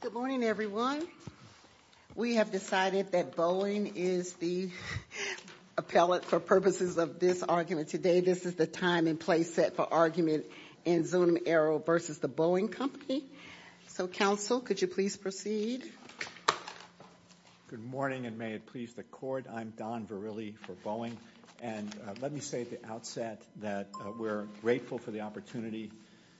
Good morning, everyone. We have decided that Boeing is the appellate for purposes of this argument today. This is the time and place set for argument in Zunum Aero v. The Boeing Company. So, Counsel, could you please proceed? Good morning, and may it please the Court. I'm Don Verrilli for Boeing, and let me say at the outset that we're grateful for the opportunity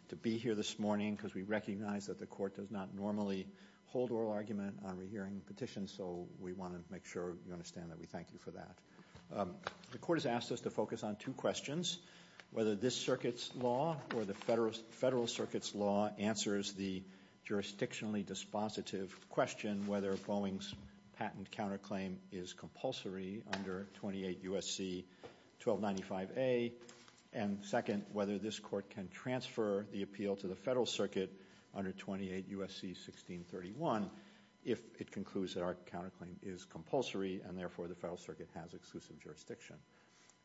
to be here this morning because we recognize that the Court does not normally hold oral argument on rehearing petitions, so we want to make sure you understand that we thank you for that. The Court has asked us to focus on two questions, whether this Circuit's law or the Federal Circuit's law answers the jurisdictionally dispositive question whether Boeing's patent counterclaim is compulsory under 28 U.S.C. 1295A, and second, whether this Court can transfer the appeal to the Federal Circuit under 28 U.S.C. 1631 if it concludes that our counterclaim is compulsory and, therefore, the Federal Circuit has exclusive jurisdiction.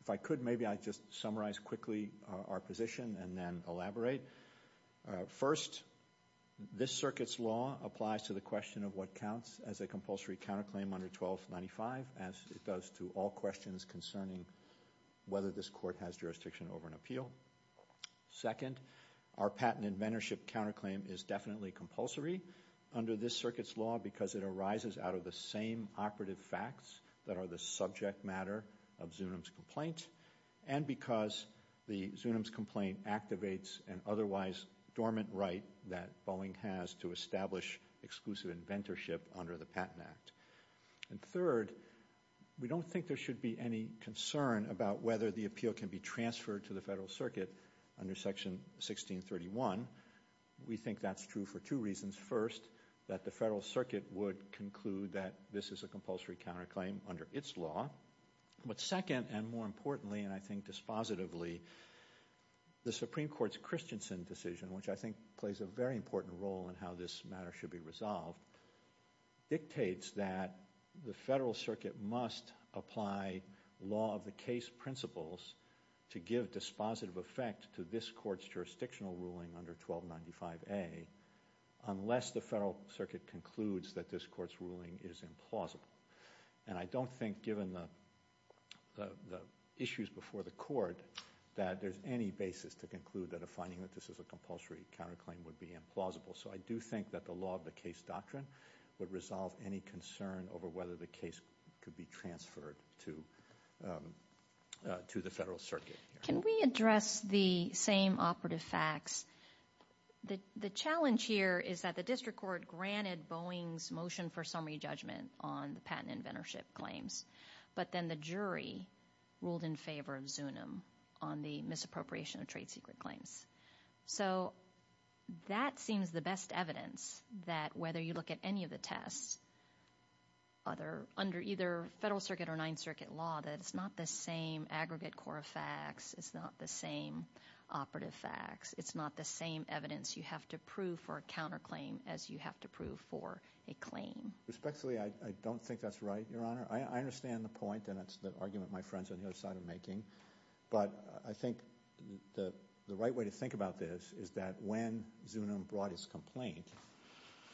If I could, maybe I'd just summarize quickly our position and then elaborate. First, this Circuit's law applies to the question of what counts as a compulsory counterclaim under 1295, as it does to all questions concerning whether this Court has jurisdiction over an appeal. Second, our patent inventorship counterclaim is definitely compulsory under this Circuit's law because it arises out of the same operative facts that are the subject matter of Zunim's complaint and because the Zunim's complaint activates an otherwise dormant right that Boeing has to establish exclusive inventorship under the Patent Act. And third, we don't think there should be any concern about whether the appeal can be transferred to the Federal Circuit under Section 1631. We think that's true for two reasons. First, that the Federal Circuit would conclude that this is a compulsory counterclaim under its law. But second, and more importantly, and I think dispositively, the Supreme Court's Christensen decision, which I think plays a very important role in how this matter should be resolved, dictates that the Federal Circuit must apply law of the case principles to give dispositive effect to this Court's jurisdictional ruling under 1295A unless the Federal Circuit concludes that this Court's ruling is implausible. And I don't think, given the issues before the Court, that there's any basis to conclude that a finding that this is a compulsory counterclaim would be implausible. So I do think that the law of the case doctrine would resolve any concern over whether the case could be transferred to the Federal Circuit. Can we address the same operative facts? The challenge here is that the District Court granted Boeing's motion for summary judgment on the patent inventorship claims, but then the jury ruled in favor of Zunim on the misappropriation of trade secret claims. So that seems the best evidence that whether you look at any of the tests under either Federal Circuit or Ninth Circuit law, that it's not the same aggregate core of facts, it's not the same operative facts, it's not the same evidence you have to prove for a counterclaim as you have to prove for a claim. Respectfully, I don't think that's right, Your Honor. I understand the point, and it's the argument my friend's on the other side of making, but I think the right way to think about this is that when Zunim brought his complaint,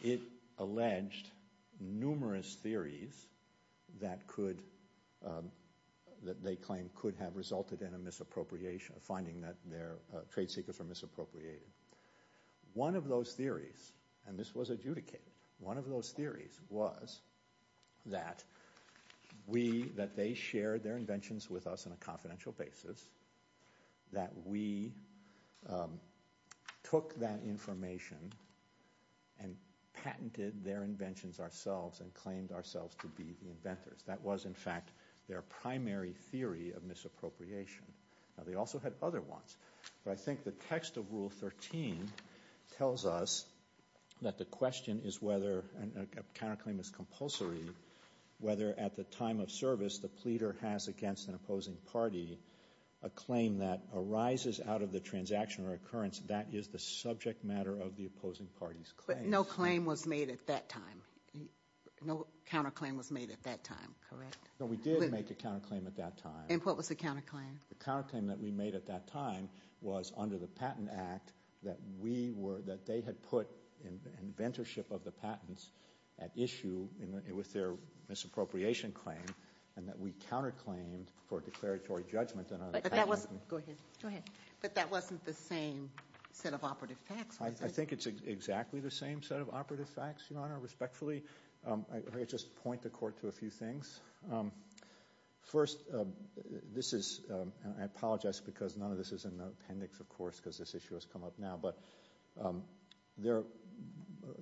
it alleged numerous theories that could, that they claimed could have resulted in a misappropriation, a finding that their trade secrets were misappropriated. One of those theories, and this was adjudicated, one of those theories was that we, that they shared their inventions with us on a confidential basis, that we took that information and patented their inventions ourselves and claimed ourselves to be the inventors. That was, in fact, their primary theory of misappropriation. Now they whether a counterclaim is compulsory, whether at the time of service the pleader has against an opposing party a claim that arises out of the transaction or occurrence, that is the subject matter of the opposing party's claim. But no claim was made at that time. No counterclaim was made at that time, correct? No, we did make a counterclaim at that time. And what was the counterclaim? The counterclaim that we made at that time was under the Patent Act that we were, that they had put inventorship of the patents at issue with their misappropriation claim and that we counterclaimed for a declaratory judgment on our patent. But that wasn't, go ahead, go ahead, but that wasn't the same set of operative facts, was I think it's exactly the same set of operative facts, Your Honor, respectfully. Let me just point the Court to a few things. First, this is, and I apologize because none of this is in the appendix, of course, because this issue has come up now, but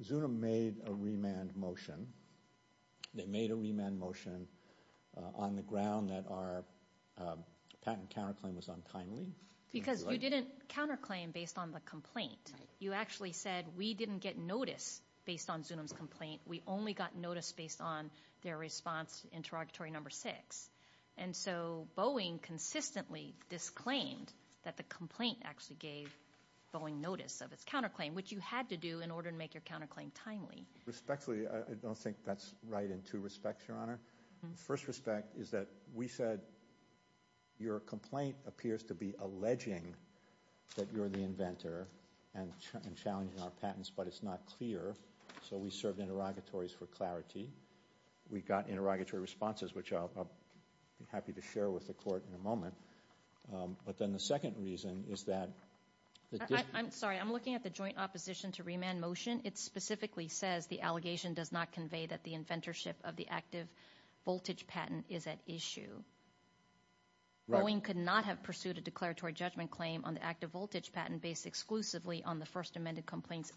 Zunim made a remand motion. They made a remand motion on the ground that our patent counterclaim was untimely. Because you didn't counterclaim based on the complaint. You actually said we didn't get notice based on Zunim's complaint. We only got notice based on their response interrogatory number six. And so Boeing consistently disclaimed that the complaint actually gave Boeing notice of its counterclaim, which you had to do in order to make your counterclaim timely. Respectfully, I don't think that's right in two respects, Your Honor. The first respect is that we said your complaint appears to be alleging that you're the inventor and challenging our patents, but it's not clear. So we served interrogatories for clarity. We got interrogatory responses, which I'll be happy to share with the Court in a moment. But then the second reason is that... I'm sorry. I'm looking at the joint opposition to remand motion. It specifically says the allegation does not convey that the inventorship of the active voltage patent is at issue. Boeing could not have pursued a declaratory judgment claim on the active voltage patent based exclusively on the First Amendment complaint's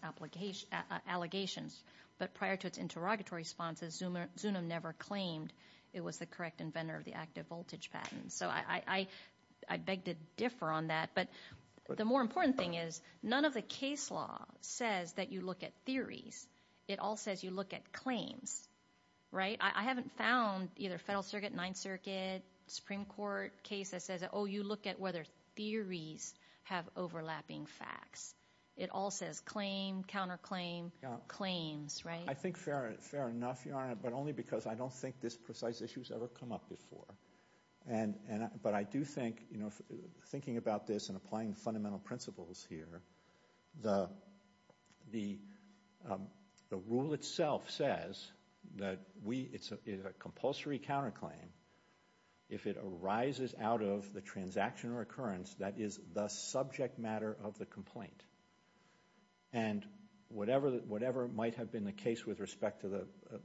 allegations. But prior to its interrogatory responses, Zunim never claimed it was the correct inventor of the active voltage patent. So I beg to differ on that. But the more important thing is none of the case law says that you look at theories. It all says you look at claims, right? I haven't found either Federal Circuit, Ninth Circuit, Supreme Court cases that says, oh, you look at whether theories have overlapping facts. It all says claim, counterclaim, claim, claims, right? I think fair enough, Your Honor, but only because I don't think this precise issue has ever come up before. But I do think, thinking about this and applying fundamental principles here, the rule itself says that it's a compulsory counterclaim. If it arises out of the transaction or occurrence, that is the subject matter of the complaint. And whatever might have been the case with respect to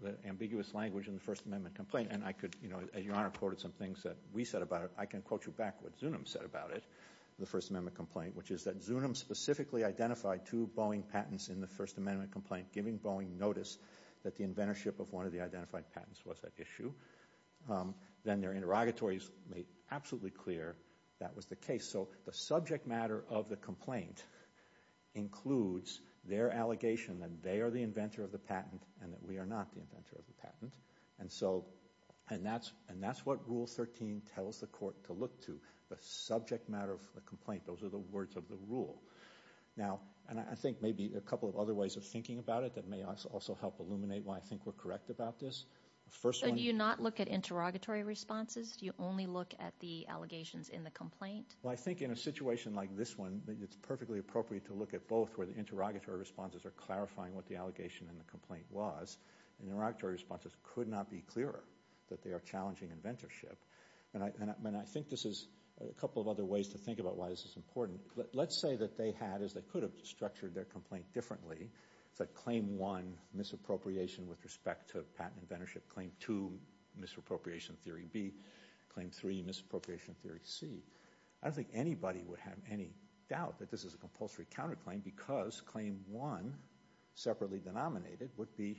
the ambiguous language in the First Amendment complaint, and I could, as Your Honor quoted some things that we said about it, I can quote you back what Zunim said about it, the First Amendment complaint, which is that Zunim specifically identified two Boeing patents in the First Amendment complaint, giving Boeing notice that the inventorship of one of the identified patents was at issue. Then their interrogatories made absolutely clear that was the case. So the subject matter of the complaint includes their allegation that they are the inventor of the patent and that we are not the inventor of the patent. And so, and that's what Rule 13 tells the court to look to, the subject matter of the complaint. Those are the words of the rule. Now, and I think maybe a couple of other ways of thinking about it that may also help illuminate why I think we're correct about this. So do you not look at interrogatory responses? Do you only look at the allegations in the complaint? I think it would be appropriate to look at both where the interrogatory responses are clarifying what the allegation in the complaint was, and the interrogatory responses could not be clearer that they are challenging inventorship. And I think this is a couple of other ways to think about why this is important. Let's say that they had, as they could have structured their complaint differently, it's like claim one, misappropriation with respect to patent inventorship, claim two, misappropriation theory B, claim three, misappropriation theory C. I don't think anybody would have any doubt that this is a compulsory counterclaim because claim one, separately denominated, would be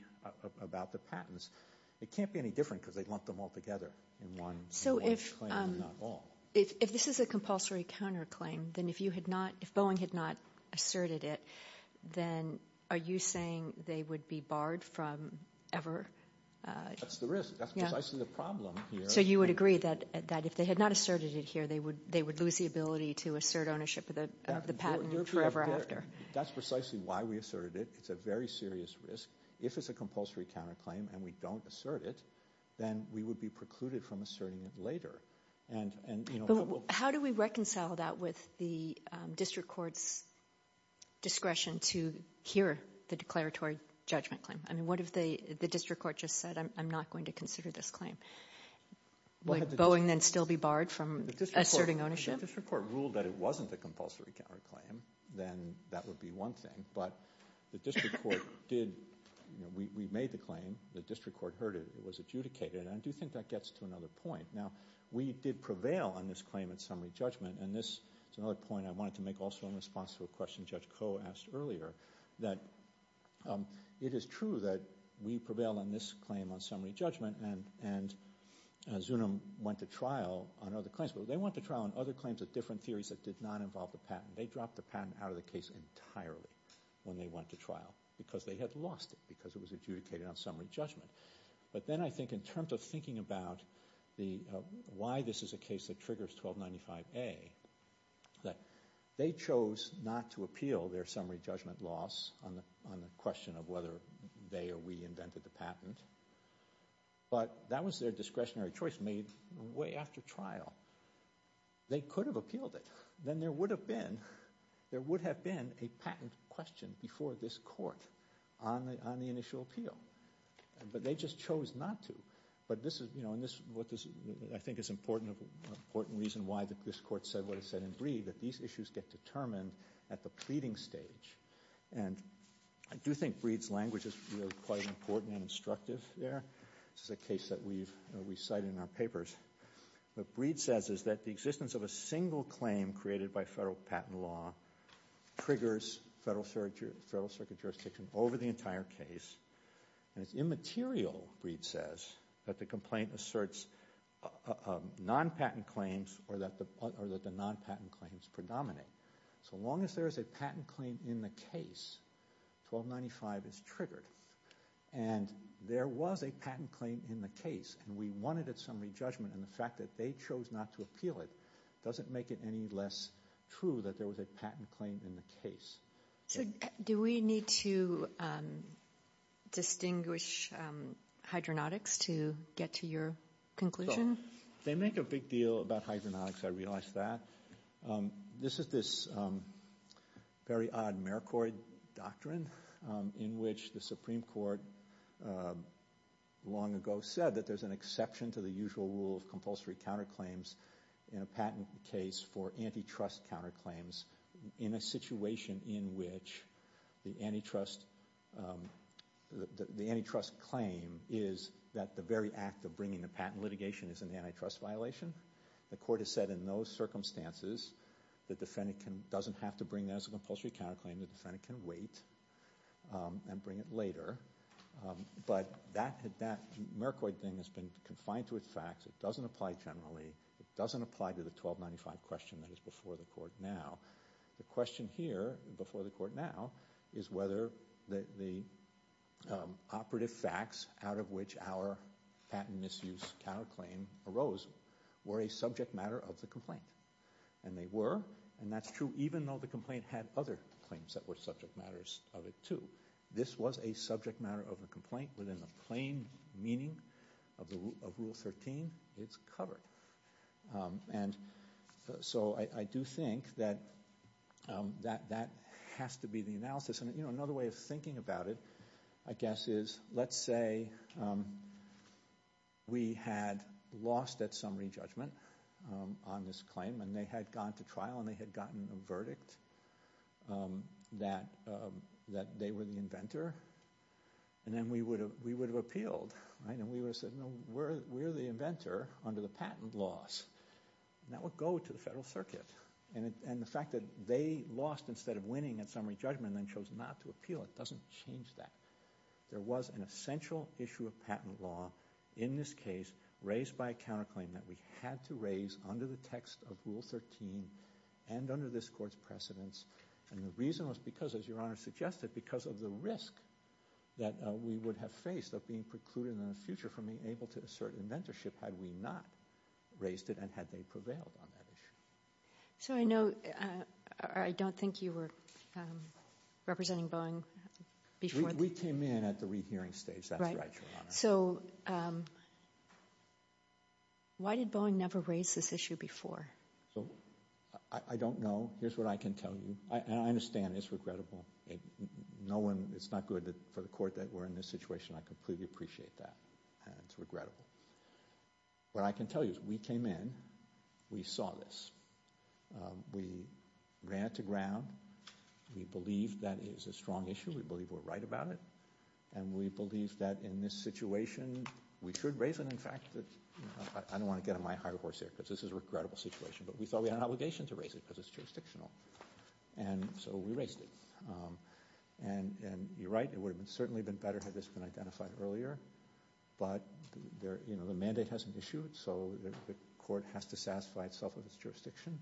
about the patents. It can't be any different because they lumped them all together in one claim, not all. So if this is a compulsory counterclaim, then if you had not, if Boeing had not asserted it, then are you saying they would be barred from ever? That's the risk. That's precisely the problem here. So you would agree that if they had not asserted it here, they would lose the ability to assert ownership of the patent forever after. That's precisely why we asserted it. It's a very serious risk. If it's a compulsory counterclaim and we don't assert it, then we would be precluded from asserting it later. How do we reconcile that with the district court's discretion to hear the declaratory judgment claim? I mean, what if the district court just said, I'm not going to consider this claim? Would Boeing then still be barred from asserting ownership? If the district court ruled that it wasn't a compulsory counterclaim, then that would be one thing. But the district court did, you know, we made the claim. The district court heard it. It was adjudicated. And I do think that gets to another point. Now, we did prevail on this claim in summary judgment. And this is another point I wanted to make also in response to a question Judge Koh asked earlier, that it is true that we prevail on this claim on summary judgment and Zunim went to trial on other claims. But they went to trial on other claims of different theories that did not involve the patent. They dropped the patent out of the case entirely when they went to trial because they had lost it because it was adjudicated on summary judgment. But then I think in terms of thinking about why this is a case that triggers 1295A, that they chose not to appeal their summary judgment loss on the question of whether they or we invented the patent. But that was their discretionary choice made way after trial. They could have appealed it. Then there would have been, there would have been a patent question before this court on the initial appeal. But they just chose not to. But this is, you know, and this is what I think is an important reason why this court said what it said in Breed, that these issues get determined at the pleading stage. And I do think Breed's language is really quite important and instructive there. This is a case that we've cited in our papers. What Breed says is that the existence of a single claim created by federal patent law triggers federal circuit jurisdiction over the entire case. And it's immaterial, Breed says, that the complaint asserts non-patent claims or that the non-patent claims predominate. So long as there's a patent claim in the case, 1295 is triggered. And there was a patent claim in the case. And we wanted a summary judgment. And the fact that they chose not to appeal it doesn't make it any less true that there was a patent claim in the case. So do we need to distinguish hydronautics to get to your conclusion? They make a big deal about hydronautics, I realize that. This is this very odd mercoid doctrine in which the Supreme Court long ago said that there's an exception to the usual rule of compulsory counterclaims in a patent case for antitrust counterclaims in a situation in which the antitrust claim is that the very act of bringing the patent litigation is an antitrust violation. The court has said in those circumstances the defendant doesn't have to bring that as a compulsory counterclaim. The defendant can wait and bring it later. But that mercoid thing has been confined to its facts. It doesn't apply generally. It doesn't apply to the 1295 question that is before the court now. The question here before the court now is whether the operative facts out of which our patent misuse counterclaim arose were a subject matter of the complaint. And they were. And that's true even though the complaint had other claims that were subject matters of it too. This was a subject matter of a complaint within the plain meaning of rule 13. It's covered. And so I do think that that has to be the analysis. And you know another way of thinking about it I guess is let's say we had lost at summary judgment on this claim and they had gone to trial and they had gotten a verdict that they were the inventor. And then we would have appealed. And we would have said no we're the inventor under the patent laws. And that would go to the federal circuit. And the fact that they lost instead of winning at summary judgment and then chose not to appeal, it doesn't change that. There was an essential issue of patent law in this case raised by a counterclaim that we had to raise under the text of rule 13 and under this court's precedence. And the reason was because as your honor suggested because of the risk that we would have faced of being precluded in the future from being able to assert inventorship had we not raised it and had they prevailed on that issue. So I know I don't think you were representing Boeing before. We came in at the rehearing stage that's right your honor. So why did Boeing never raise this issue before? So I don't know. Here's what I can tell you. And I understand it's regrettable. It's not good for the court that we're in this situation. I completely appreciate that and it's regrettable. What I can tell you is we came in. We saw this. We ran it to ground. We believe that is a strong issue. We believe we're right about it. And we believe that in this situation we should raise it. In fact, I don't want to get on my high horse here because this is a regrettable situation. But we thought we had an obligation to raise it because it's jurisdictional. And so we raised it. And you're right. It would have certainly been better had this been identified earlier. But the mandate hasn't issued. So the court has to satisfy itself of its jurisdiction.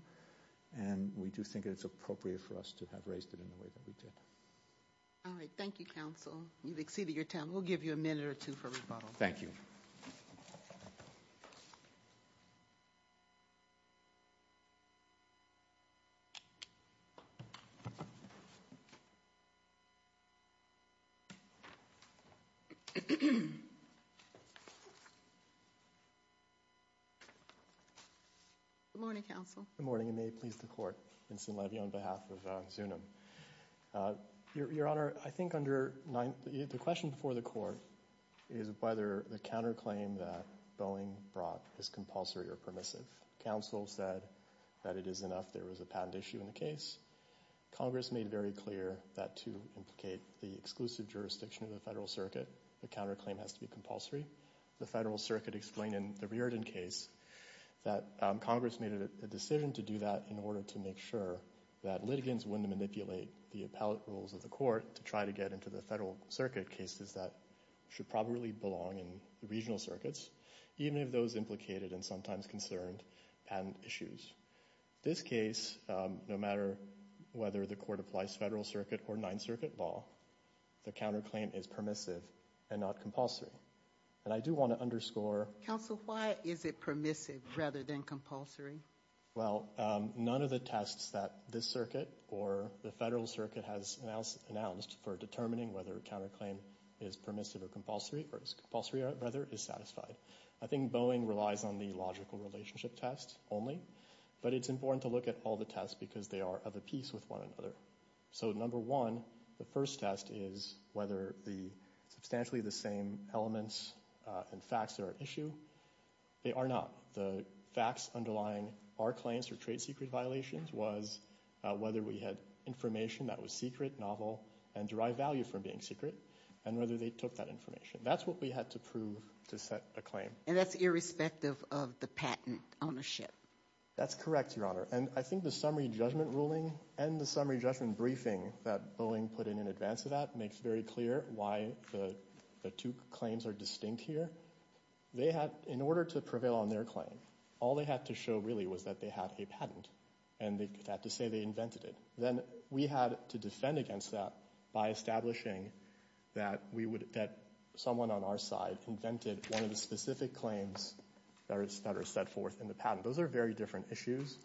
And we do think it's appropriate for us to have raised it in the way that we did. All right. Thank you, counsel. You've exceeded your time. We'll give you a minute or two for rebuttal. Thank you. Good morning, counsel. Good morning and may it please the court. Vincent Levy on behalf of Zunim. Your Honor, I think under the question before the court is whether the counterclaim that Boeing brought is compulsory or permissive. Counsel said that it is enough there was a patent issue in the case. Congress made very clear that to implicate the exclusive jurisdiction of the federal circuit, the counterclaim has to be compulsory. The federal circuit explained in the Reardon case that Congress made a decision to do that in order to make sure that litigants wouldn't manipulate the appellate rules of the court to try to get into the federal circuit cases that should probably belong in the regional circuits, even if those implicated and sometimes concerned patent issues. This case, no matter whether the court applies federal circuit or ninth circuit law, the counterclaim is permissive and not compulsory. And I do want to underscore. Counsel, why is it permissive rather than compulsory? Well, none of the tests that this circuit or the federal circuit has announced announced for determining whether a counterclaim is permissive or compulsory or compulsory rather is satisfied. I think Boeing relies on the logical relationship test only. But it's important to look at all the tests because they are of a piece with one another. So, number one, the first test is whether the substantially the same elements and facts are at issue. They are not. The facts underlying our claims for trade secret violations was whether we had information that was secret, novel, and derived value from being secret, and whether they took that information. That's what we had to prove to set a claim. And that's irrespective of the patent ownership. That's correct, Your Honor. And I think the summary judgment ruling and the summary judgment briefing that Boeing put in in advance of that makes very clear why the two claims are distinct here. They had, in order to prevail on their claim, all they had to show really was that they had a patent. And they have to say they invented it. Then we had to defend against that by establishing that we would, that someone on our side invented one of the specific claims that are set forth in the patent. Those are very different issues.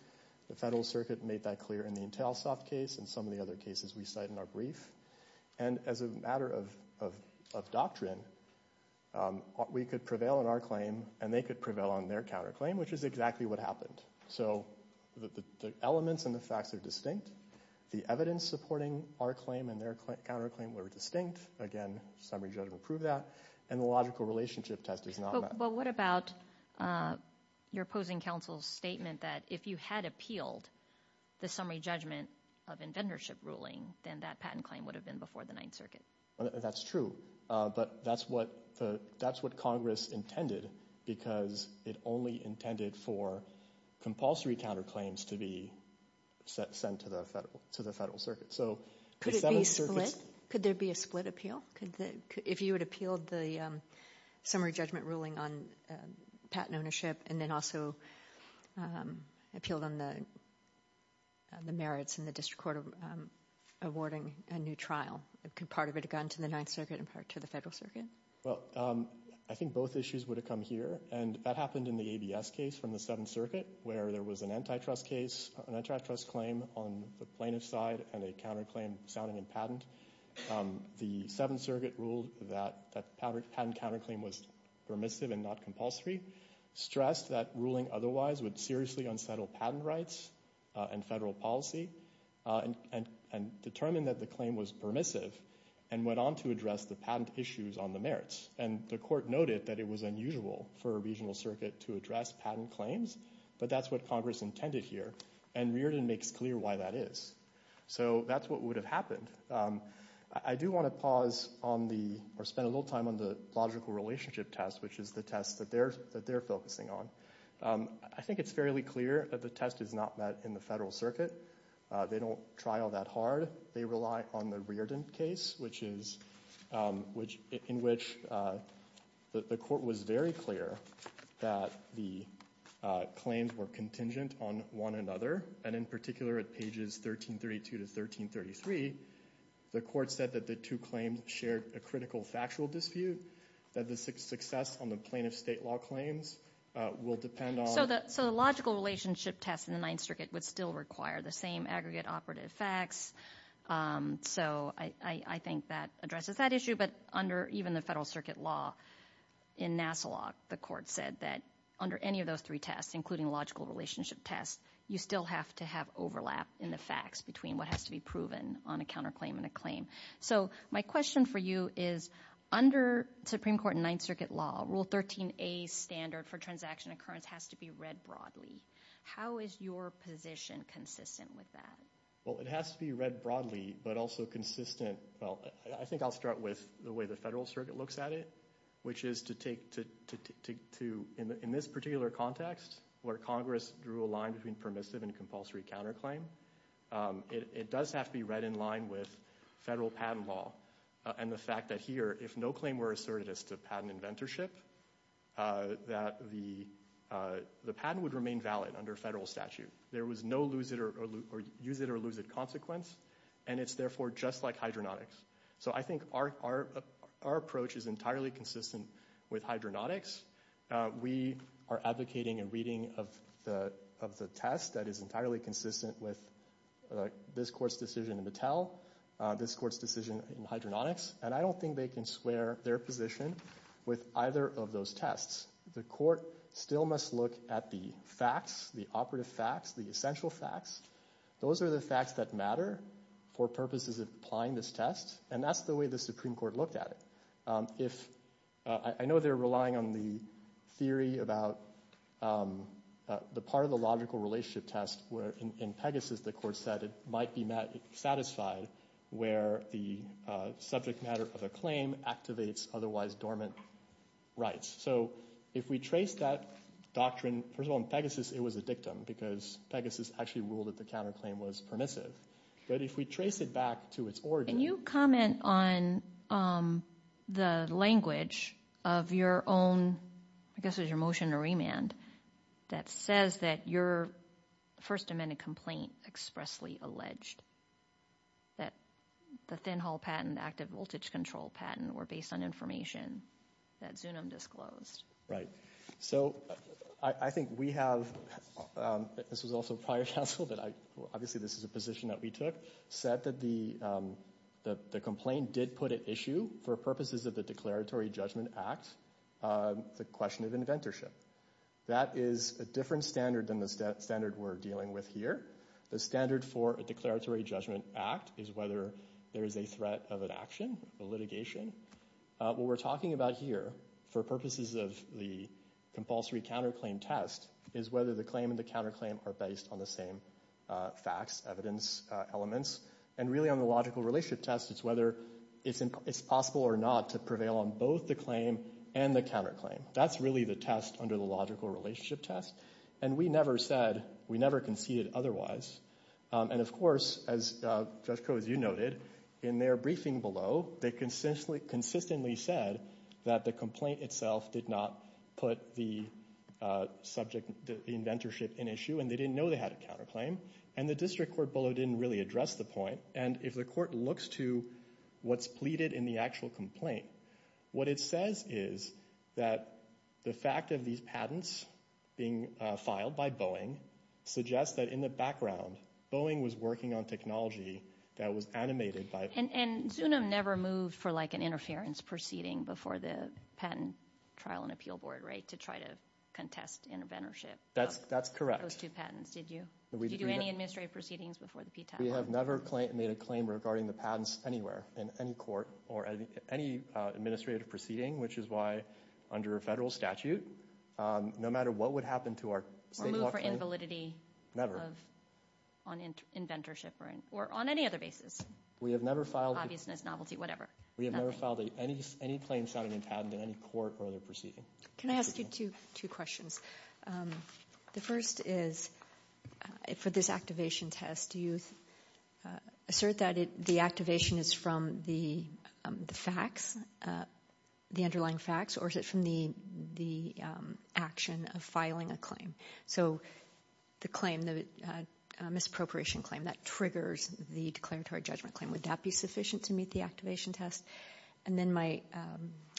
The federal circuit made that clear in the Intelsoft case and some of the other cases we cite in our brief. And as a matter of doctrine, we could prevail on our claim and they could prevail on their counterclaim, which is exactly what happened. So the elements and the facts are distinct. The evidence supporting our claim and their counterclaim were distinct. Again, summary judgment proved that. And the logical relationship test is not. But what about your opposing counsel's statement that if you had appealed the summary judgment of inventorship ruling, then that patent claim would have been before the Ninth Circuit? That's true. But that's what the that's what Congress intended because it only intended for compulsory counterclaims to be sent to the federal to the federal circuit. So could there be a split appeal? If you had appealed the summary judgment ruling on patent ownership and then also appealed on the merits in the district court awarding a new trial, could part of it have gone to the Ninth Circuit and part to the federal circuit? Well, I think both issues would have come here. And that happened in the ABS case from the Seventh Circuit, where there was an antitrust case, an antitrust claim on the plaintiff's side and a counterclaim sounding in patent. The Seventh Circuit ruled that the patent counterclaim was permissive and not compulsory, stressed that ruling otherwise would seriously unsettle patent rights and federal policy, and determined that the claim was permissive and went on to address the patent issues on the merits. And the court noted that it was unusual for a regional circuit to address patent claims. But that's what Congress intended here. And Reardon makes clear why that is. So that's what would have happened. I do want to pause on the, or spend a little time on the logical relationship test, which is the test that they're focusing on. I think it's fairly clear that the test is not met in the federal circuit. They don't trial that hard. They rely on the Reardon case, which is, in which the court was very clear that the claims were contingent on one another. And in particular, at pages 1332 to 1333, the court said that the two claims shared a critical factual dispute, that the success on the plaintiff's state law claims will depend on So the logical relationship test in the Ninth Circuit would still require the same aggregate operative facts. So I think that addresses that issue. But under even the federal circuit law, in NASA law, the court said that under any of those three tests, including logical relationship tests, you still have to have overlap in the facts between what has to be proven on a counterclaim and a claim. So my question for you is, under Supreme Court and Ninth Circuit law, Rule 13a standard for transaction occurrence has to be read broadly. How is your position consistent with that? Well, it has to be read broadly, but also consistent. Well, I think I'll start with the way the federal circuit looks at it, which is to take to, in this particular context, where Congress drew a line between permissive and compulsory counterclaim, it does have to be read in line with federal patent law. And the fact that here, if no claim were asserted as to patent inventorship, that the patent would remain valid under federal statute. There was no use-it-or-lose-it consequence, and it's therefore just like hydronautics. So I think our approach is entirely consistent with hydronautics. We are advocating a reading of the test that is entirely consistent with this court's decision in Mattel, this court's decision in hydronautics, and I don't think they can swear their position with either of those tests. The court still must look at the facts, the operative facts, the essential facts. Those are the facts that matter for purposes of applying this test, and that's the way the Supreme Court looked at it. I know they're relying on the theory about the part of the logical relationship test where, in Pegasus, the court said it might be satisfied where the subject matter of a claim activates otherwise dormant rights. So if we trace that doctrine, first of all, in Pegasus it was a dictum because Pegasus actually ruled that the counterclaim was permissive. But if we trace it back to its origin... Can you comment on the language of your own, I guess it was your motion to remand, that says that your First Amendment complaint expressly alleged that the Thinhall patent, the active voltage control patent, were based on information that Zunim disclosed? Right. So I think we have, this was also prior counsel, obviously this is a position that we took, said that the complaint did put at issue, for purposes of the Declaratory Judgment Act, the question of inventorship. That is a different standard than the standard we're dealing with here. The standard for a Declaratory Judgment Act is whether there is a threat of an action, a litigation. What we're talking about here, for purposes of the compulsory counterclaim test, is whether the claim and the counterclaim are based on the same facts, evidence, elements. And really on the logical relationship test, it's whether it's possible or not to prevail on both the claim and the counterclaim. That's really the test under the logical relationship test. And we never said, we never conceded otherwise. And of course, as Judge Koh, as you noted, in their briefing below, they consistently said that the complaint itself did not put the subject, the inventorship, in issue. And they didn't know they had a counterclaim. And the district court bulletin didn't really address the point. And if the court looks to what's pleaded in the actual complaint, what it says is that the fact of these patents being filed by Boeing suggests that in the background, Boeing was working on technology that was animated by- And Zunim never moved for like an interference proceeding before the patent trial and appeal board, right, to try to contest inventorship of those two patents, did you? Did you do any administrative proceedings before the PTAC? We have never made a claim regarding the patents anywhere in any court or any administrative proceeding, which is why under a federal statute, no matter what would happen to our- Or move for invalidity on inventorship or on any other basis. We have never filed- Obviousness, novelty, whatever. We have never filed any claim sounding in patent in any court or other proceeding. Can I ask you two questions? The first is, for this activation test, do you assert that the activation is from the facts, the underlying facts, or is it from the action of filing a claim? So the claim, the misappropriation claim, that triggers the declaratory judgment claim. Would that be sufficient to meet the activation test? And then my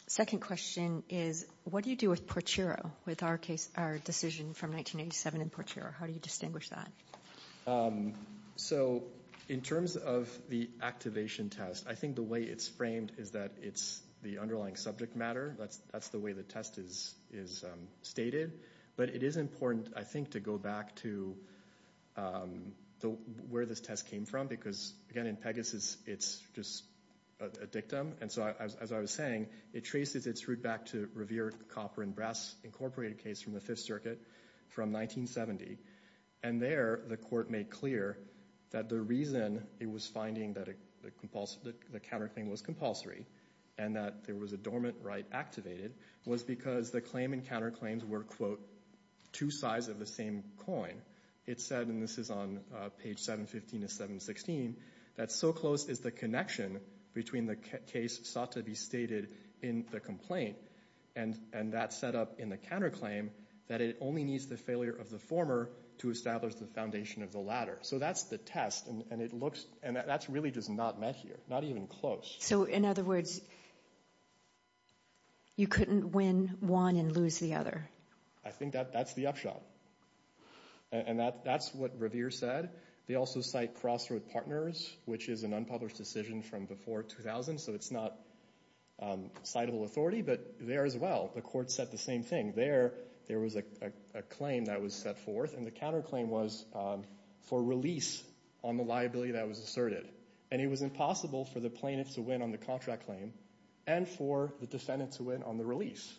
second question is, what do you do with Porchiro, with our decision from 1987 in Porchiro? How do you distinguish that? So in terms of the activation test, I think the way it's framed is that it's the underlying subject matter. That's the way the test is stated. But it is important, I think, to go back to where this test came from, because, again, in Pegasus, it's just a dictum. And so, as I was saying, it traces its route back to Revere Copper and Brass Incorporated case from the Fifth Circuit from 1970. And there, the court made clear that the reason it was finding that the counterclaim was compulsory and that there was a dormant right activated was because the claim and counterclaims were, quote, two sides of the same coin. It said, and this is on page 715 to 716, that so close is the connection between the case sought to be stated in the complaint and that setup in the counterclaim that it only needs the failure of the former to establish the foundation of the latter. So that's the test, and it looks, and that's really just not met here, not even close. So, in other words, you couldn't win one and lose the other? I think that's the upshot, and that's what Revere said. They also cite Crossroad Partners, which is an unpublished decision from before 2000, so it's not citable authority, but there as well, the court said the same thing. There was a claim that was set forth, and the counterclaim was for release on the liability that was asserted. And it was impossible for the plaintiff to win on the contract claim and for the defendant to win on the release.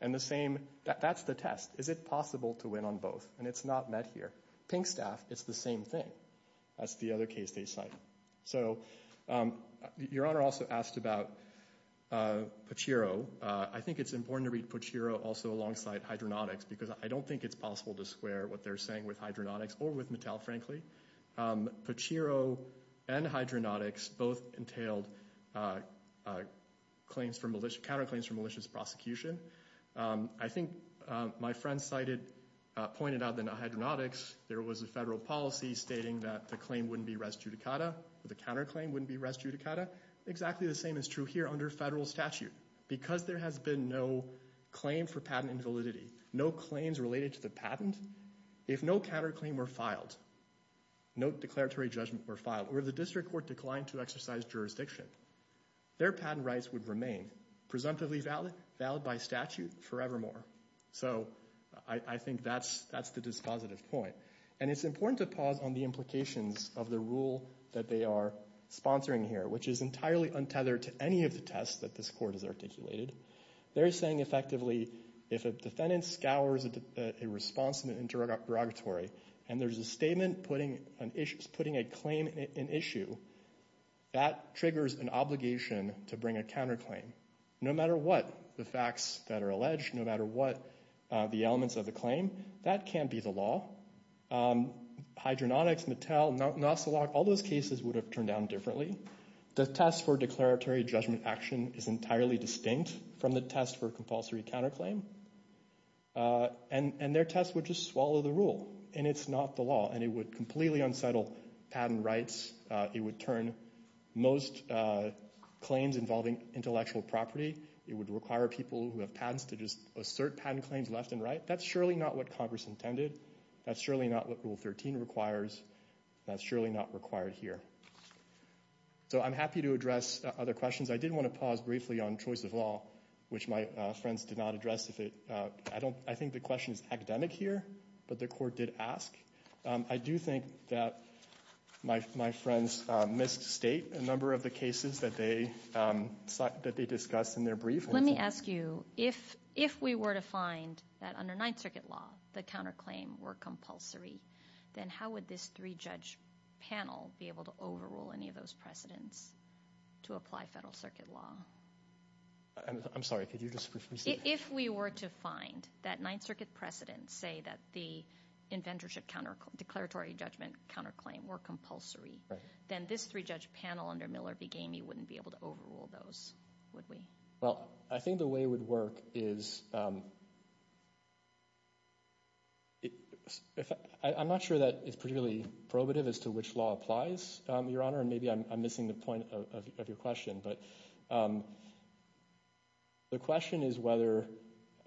And the same, that's the test. Is it possible to win on both? And it's not met here. Pinkstaff, it's the same thing. That's the other case they cite. So Your Honor also asked about Pachiro. I think it's important to read Pachiro also alongside hydronautics because I don't think it's possible to square what they're saying with hydronautics or with Mattel, frankly. Pachiro and hydronautics both entailed counterclaims for malicious prosecution. I think my friend pointed out that hydronautics, there was a federal policy stating that the claim wouldn't be res judicata, or the counterclaim wouldn't be res judicata. Exactly the same is true here under federal statute. Because there has been no claim for patent invalidity, no claims related to the patent, if no counterclaim were filed, no declaratory judgment were filed, or the district court declined to exercise jurisdiction, their patent rights would remain presumptively valid by statute forevermore. So I think that's the dispositive point. And it's important to pause on the implications of the rule that they are sponsoring here, which is entirely untethered to any of the tests that this court has articulated. They're saying effectively if a defendant scours a response in the interrogatory and there's a statement putting a claim in issue, that triggers an obligation to bring a counterclaim. No matter what the facts that are alleged, no matter what the elements of the claim, that can't be the law. Hydronautics, Mattel, Nostelok, all those cases would have turned out differently. The test for declaratory judgment action is entirely distinct from the test for compulsory counterclaim. And their test would just swallow the rule. And it's not the law. And it would completely unsettle patent rights. It would turn most claims involving intellectual property. It would require people who have patents to just assert patent claims left and right. That's surely not what Congress intended. That's surely not what Rule 13 requires. That's surely not required here. So I'm happy to address other questions. I did want to pause briefly on choice of law, which my friends did not address. I think the question is academic here, but the court did ask. I do think that my friends missed state a number of the cases that they discussed in their brief. Let me ask you, if we were to find that under Ninth Circuit law the counterclaim were compulsory, then how would this three-judge panel be able to overrule any of those precedents to apply Federal Circuit law? I'm sorry. Could you just briefly say that? If we were to find that Ninth Circuit precedents say that the inventorship declaratory judgment counterclaim were compulsory, then this three-judge panel under Miller v. Gamey wouldn't be able to overrule those, would we? Well, I think the way it would work is – I'm not sure that it's particularly probative as to which law applies, Your Honor, and maybe I'm missing the point of your question. But the question is whether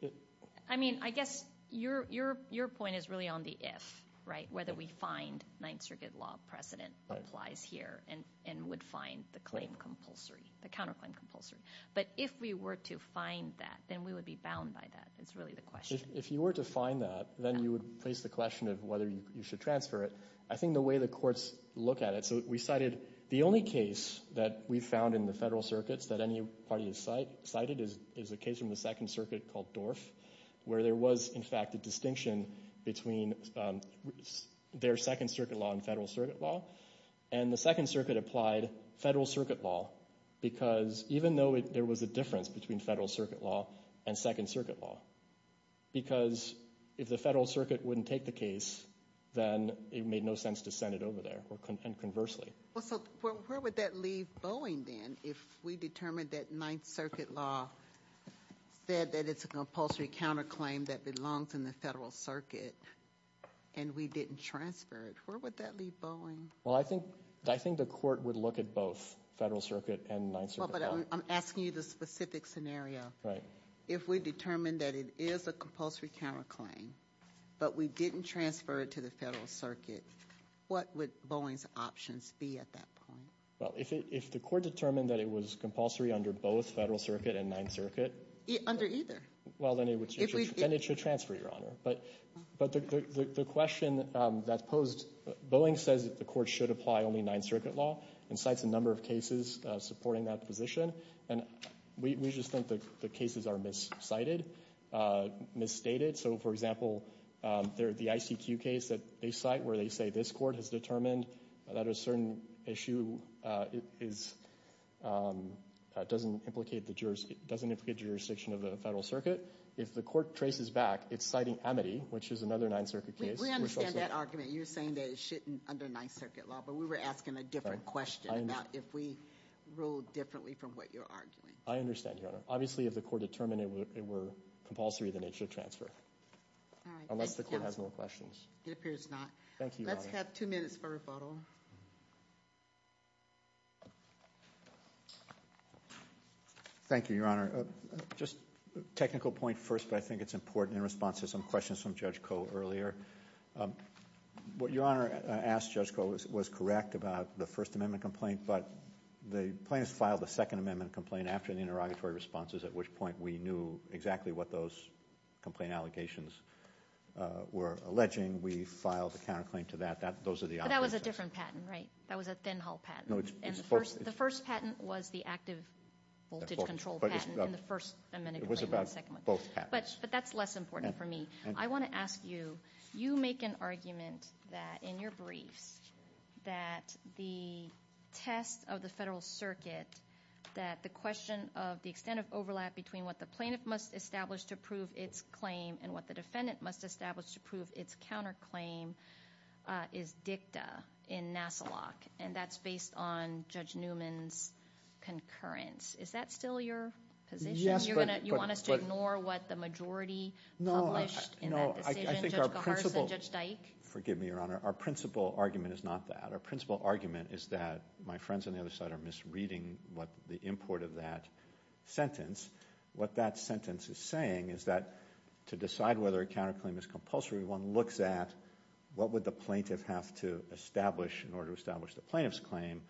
– I mean, I guess your point is really on the if, right, whether we find Ninth Circuit law precedent applies here and would find the claim compulsory, the counterclaim compulsory. But if we were to find that, then we would be bound by that. That's really the question. If you were to find that, then you would place the question of whether you should transfer it. I think the way the courts look at it – so we cited – the only case that we found in the Federal Circuits that any party has cited is a case from the Second Circuit called Dorff, where there was, in fact, a distinction between their Second Circuit law and Federal Circuit law. And the Second Circuit applied Federal Circuit law, because even though there was a difference between Federal Circuit law and Second Circuit law, because if the Federal Circuit wouldn't take the case, then it made no sense to send it over there, and conversely. Well, so where would that leave Boeing then if we determined that Ninth Circuit law said that it's a compulsory counterclaim that belongs in the Federal Circuit and we didn't transfer it? Where would that leave Boeing? Well, I think the court would look at both Federal Circuit and Ninth Circuit law. Well, but I'm asking you the specific scenario. Right. If we determined that it is a compulsory counterclaim, but we didn't transfer it to the Federal Circuit, what would Boeing's options be at that point? Well, if the court determined that it was compulsory under both Federal Circuit and Ninth Circuit – Under either. Well, then it should transfer, Your Honor. But the question that's posed, Boeing says that the court should apply only Ninth Circuit law and cites a number of cases supporting that position. And we just think that the cases are miscited, misstated. So, for example, the ICQ case that they cite where they say this court has determined that a certain issue doesn't implicate the jurisdiction of the Federal Circuit, if the court traces back, it's citing Amity, which is another Ninth Circuit case. We understand that argument. You're saying that it shouldn't under Ninth Circuit law, but we were asking a different question about if we ruled differently from what you're arguing. I understand, Your Honor. Obviously, if the court determined it were compulsory, then it should transfer. All right. Unless the court has more questions. It appears not. Thank you, Your Honor. Let's have two minutes for rebuttal. Thank you, Your Honor. Just a technical point first, but I think it's important in response to some questions from Judge Koh earlier. What Your Honor asked Judge Koh was correct about the First Amendment complaint, but the plaintiffs filed a Second Amendment complaint after the interrogatory responses at which point we knew exactly what those complaint allegations were alleging. We filed a counterclaim to that. Those are the operations. But that was a different patent, right? That was a thin-hull patent. The first patent was the active voltage control patent in the First Amendment. It was about both patents. But that's less important for me. I want to ask you, you make an argument that in your briefs that the test of the Federal Circuit, that the question of the extent of overlap between what the plaintiff must establish to prove its claim and what the defendant must establish to prove its counterclaim is dicta in NASILOC, and that's based on Judge Newman's concurrence. Is that still your position? You want us to ignore what the majority published in that decision, Judge Kohars and Judge Dyke? Forgive me, Your Honor. Our principal argument is not that. Our principal argument is that my friends on the other side are misreading the import of that sentence. What that sentence is saying is that to decide whether a counterclaim is compulsory, one looks at what would the plaintiff have to establish in order to establish the plaintiff's claim,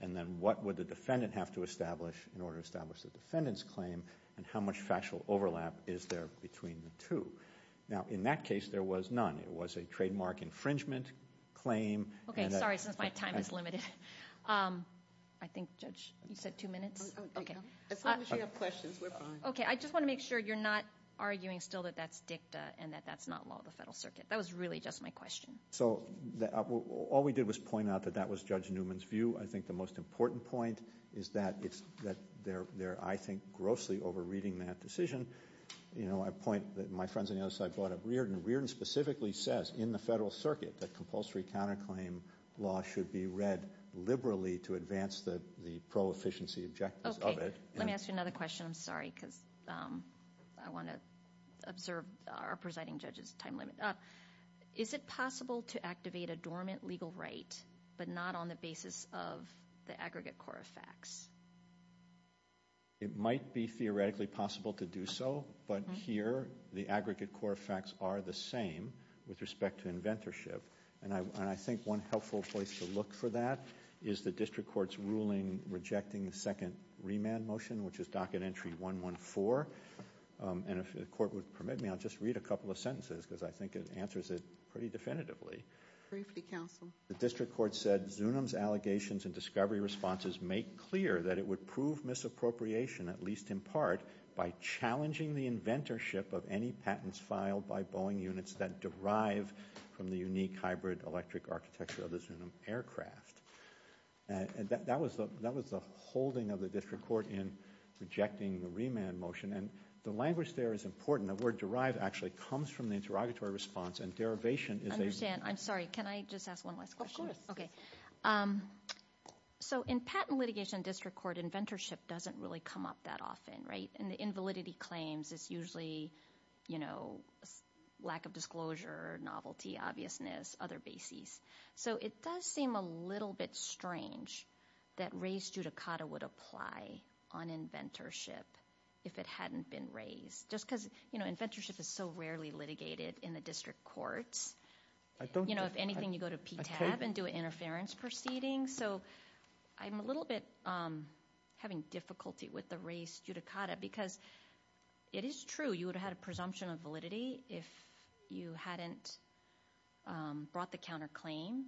and then what would the defendant have to establish in order to establish the defendant's claim, and how much factual overlap is there between the two. Now, in that case, there was none. It was a trademark infringement claim. Okay, sorry, since my time is limited. I think, Judge, you said two minutes? As long as you have questions, we're fine. Okay, I just want to make sure you're not arguing still that that's dicta and that that's not law of the Federal Circuit. That was really just my question. So all we did was point out that that was Judge Newman's view. I think the most important point is that they're, I think, grossly over-reading that decision. You know, I point that my friends on the other side brought up Reardon. Reardon specifically says in the Federal Circuit that compulsory counterclaim law should be read liberally to advance the pro-efficiency objectives of it. Okay, let me ask you another question. I'm sorry because I want to observe our presiding judge's time limit. Is it possible to activate a dormant legal right but not on the basis of the aggregate core of facts? It might be theoretically possible to do so, but here the aggregate core of facts are the same with respect to inventorship. And I think one helpful place to look for that is the district court's ruling rejecting the second remand motion, which is docket entry 114. And if the court would permit me, I'll just read a couple of sentences because I think it answers it pretty definitively. Briefly, counsel. The district court said Zunim's allegations and discovery responses make clear that it would prove misappropriation, at least in part, by challenging the inventorship of any patents filed by Boeing units that derive from the unique hybrid electric architecture of the Zunim aircraft. That was the holding of the district court in rejecting the remand motion. And the language there is important. The word derive actually comes from the interrogatory response, and derivation is a— I understand. I'm sorry. Can I just ask one last question? Of course. Okay. So in patent litigation district court, inventorship doesn't really come up that often, right? And the invalidity claims is usually, you know, lack of disclosure, novelty, obviousness, other bases. So it does seem a little bit strange that reis judicata would apply on inventorship if it hadn't been reis, just because, you know, inventorship is so rarely litigated in the district courts. I don't— You know, if anything, you go to PTAB and do an interference proceeding. So I'm a little bit having difficulty with the reis judicata because it is true. So you would have had a presumption of validity if you hadn't brought the counterclaim.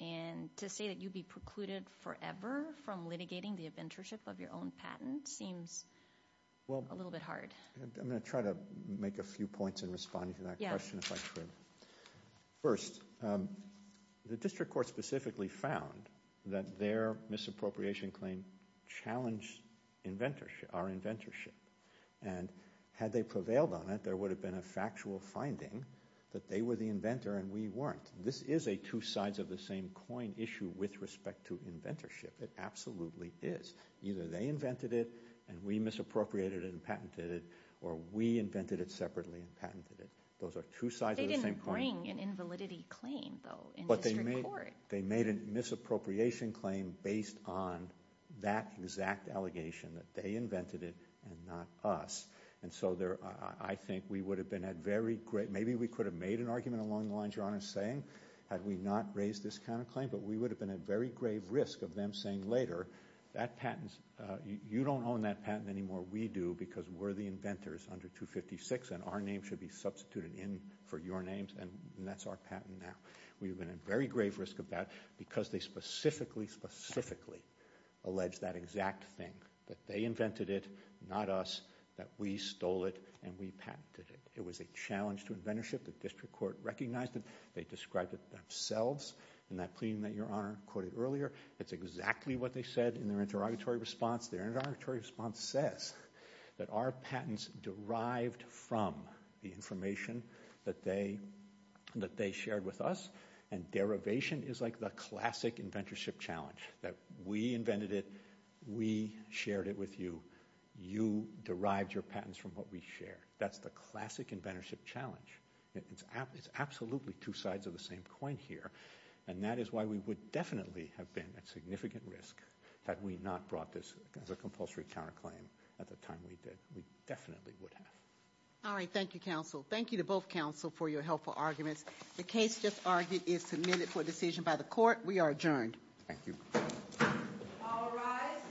And to say that you'd be precluded forever from litigating the inventorship of your own patent seems a little bit hard. I'm going to try to make a few points in responding to that question, if I could. First, the district court specifically found that their misappropriation claim challenged inventorship, our inventorship. And had they prevailed on it, there would have been a factual finding that they were the inventor and we weren't. This is a two sides of the same coin issue with respect to inventorship. It absolutely is. Either they invented it and we misappropriated it and patented it, or we invented it separately and patented it. Those are two sides of the same coin. They didn't bring an invalidity claim, though, in district court. They made a misappropriation claim based on that exact allegation, that they invented it and not us. And so I think we would have been at very great, maybe we could have made an argument along the lines your Honor is saying, had we not raised this counterclaim, but we would have been at very grave risk of them saying later, that patent, you don't own that patent anymore, we do because we're the inventors under 256 and our name should be substituted in for your names and that's our patent now. We would have been at very grave risk of that because they specifically, specifically alleged that exact thing, that they invented it, not us, that we stole it and we patented it. It was a challenge to inventorship. The district court recognized it. They described it themselves in that plea that your Honor quoted earlier. It's exactly what they said in their interrogatory response. Their interrogatory response says that our patents derived from the information that they shared with us and derivation is like the classic inventorship challenge, that we invented it, we shared it with you, you derived your patents from what we shared. That's the classic inventorship challenge. It's absolutely two sides of the same coin here and that is why we would definitely have been at significant risk that we not brought this as a compulsory counterclaim at the time we did. We definitely would have. All right. Thank you, counsel. Thank you to both counsel for your helpful arguments. The case just argued is submitted for decision by the court. We are adjourned. Thank you. All rise.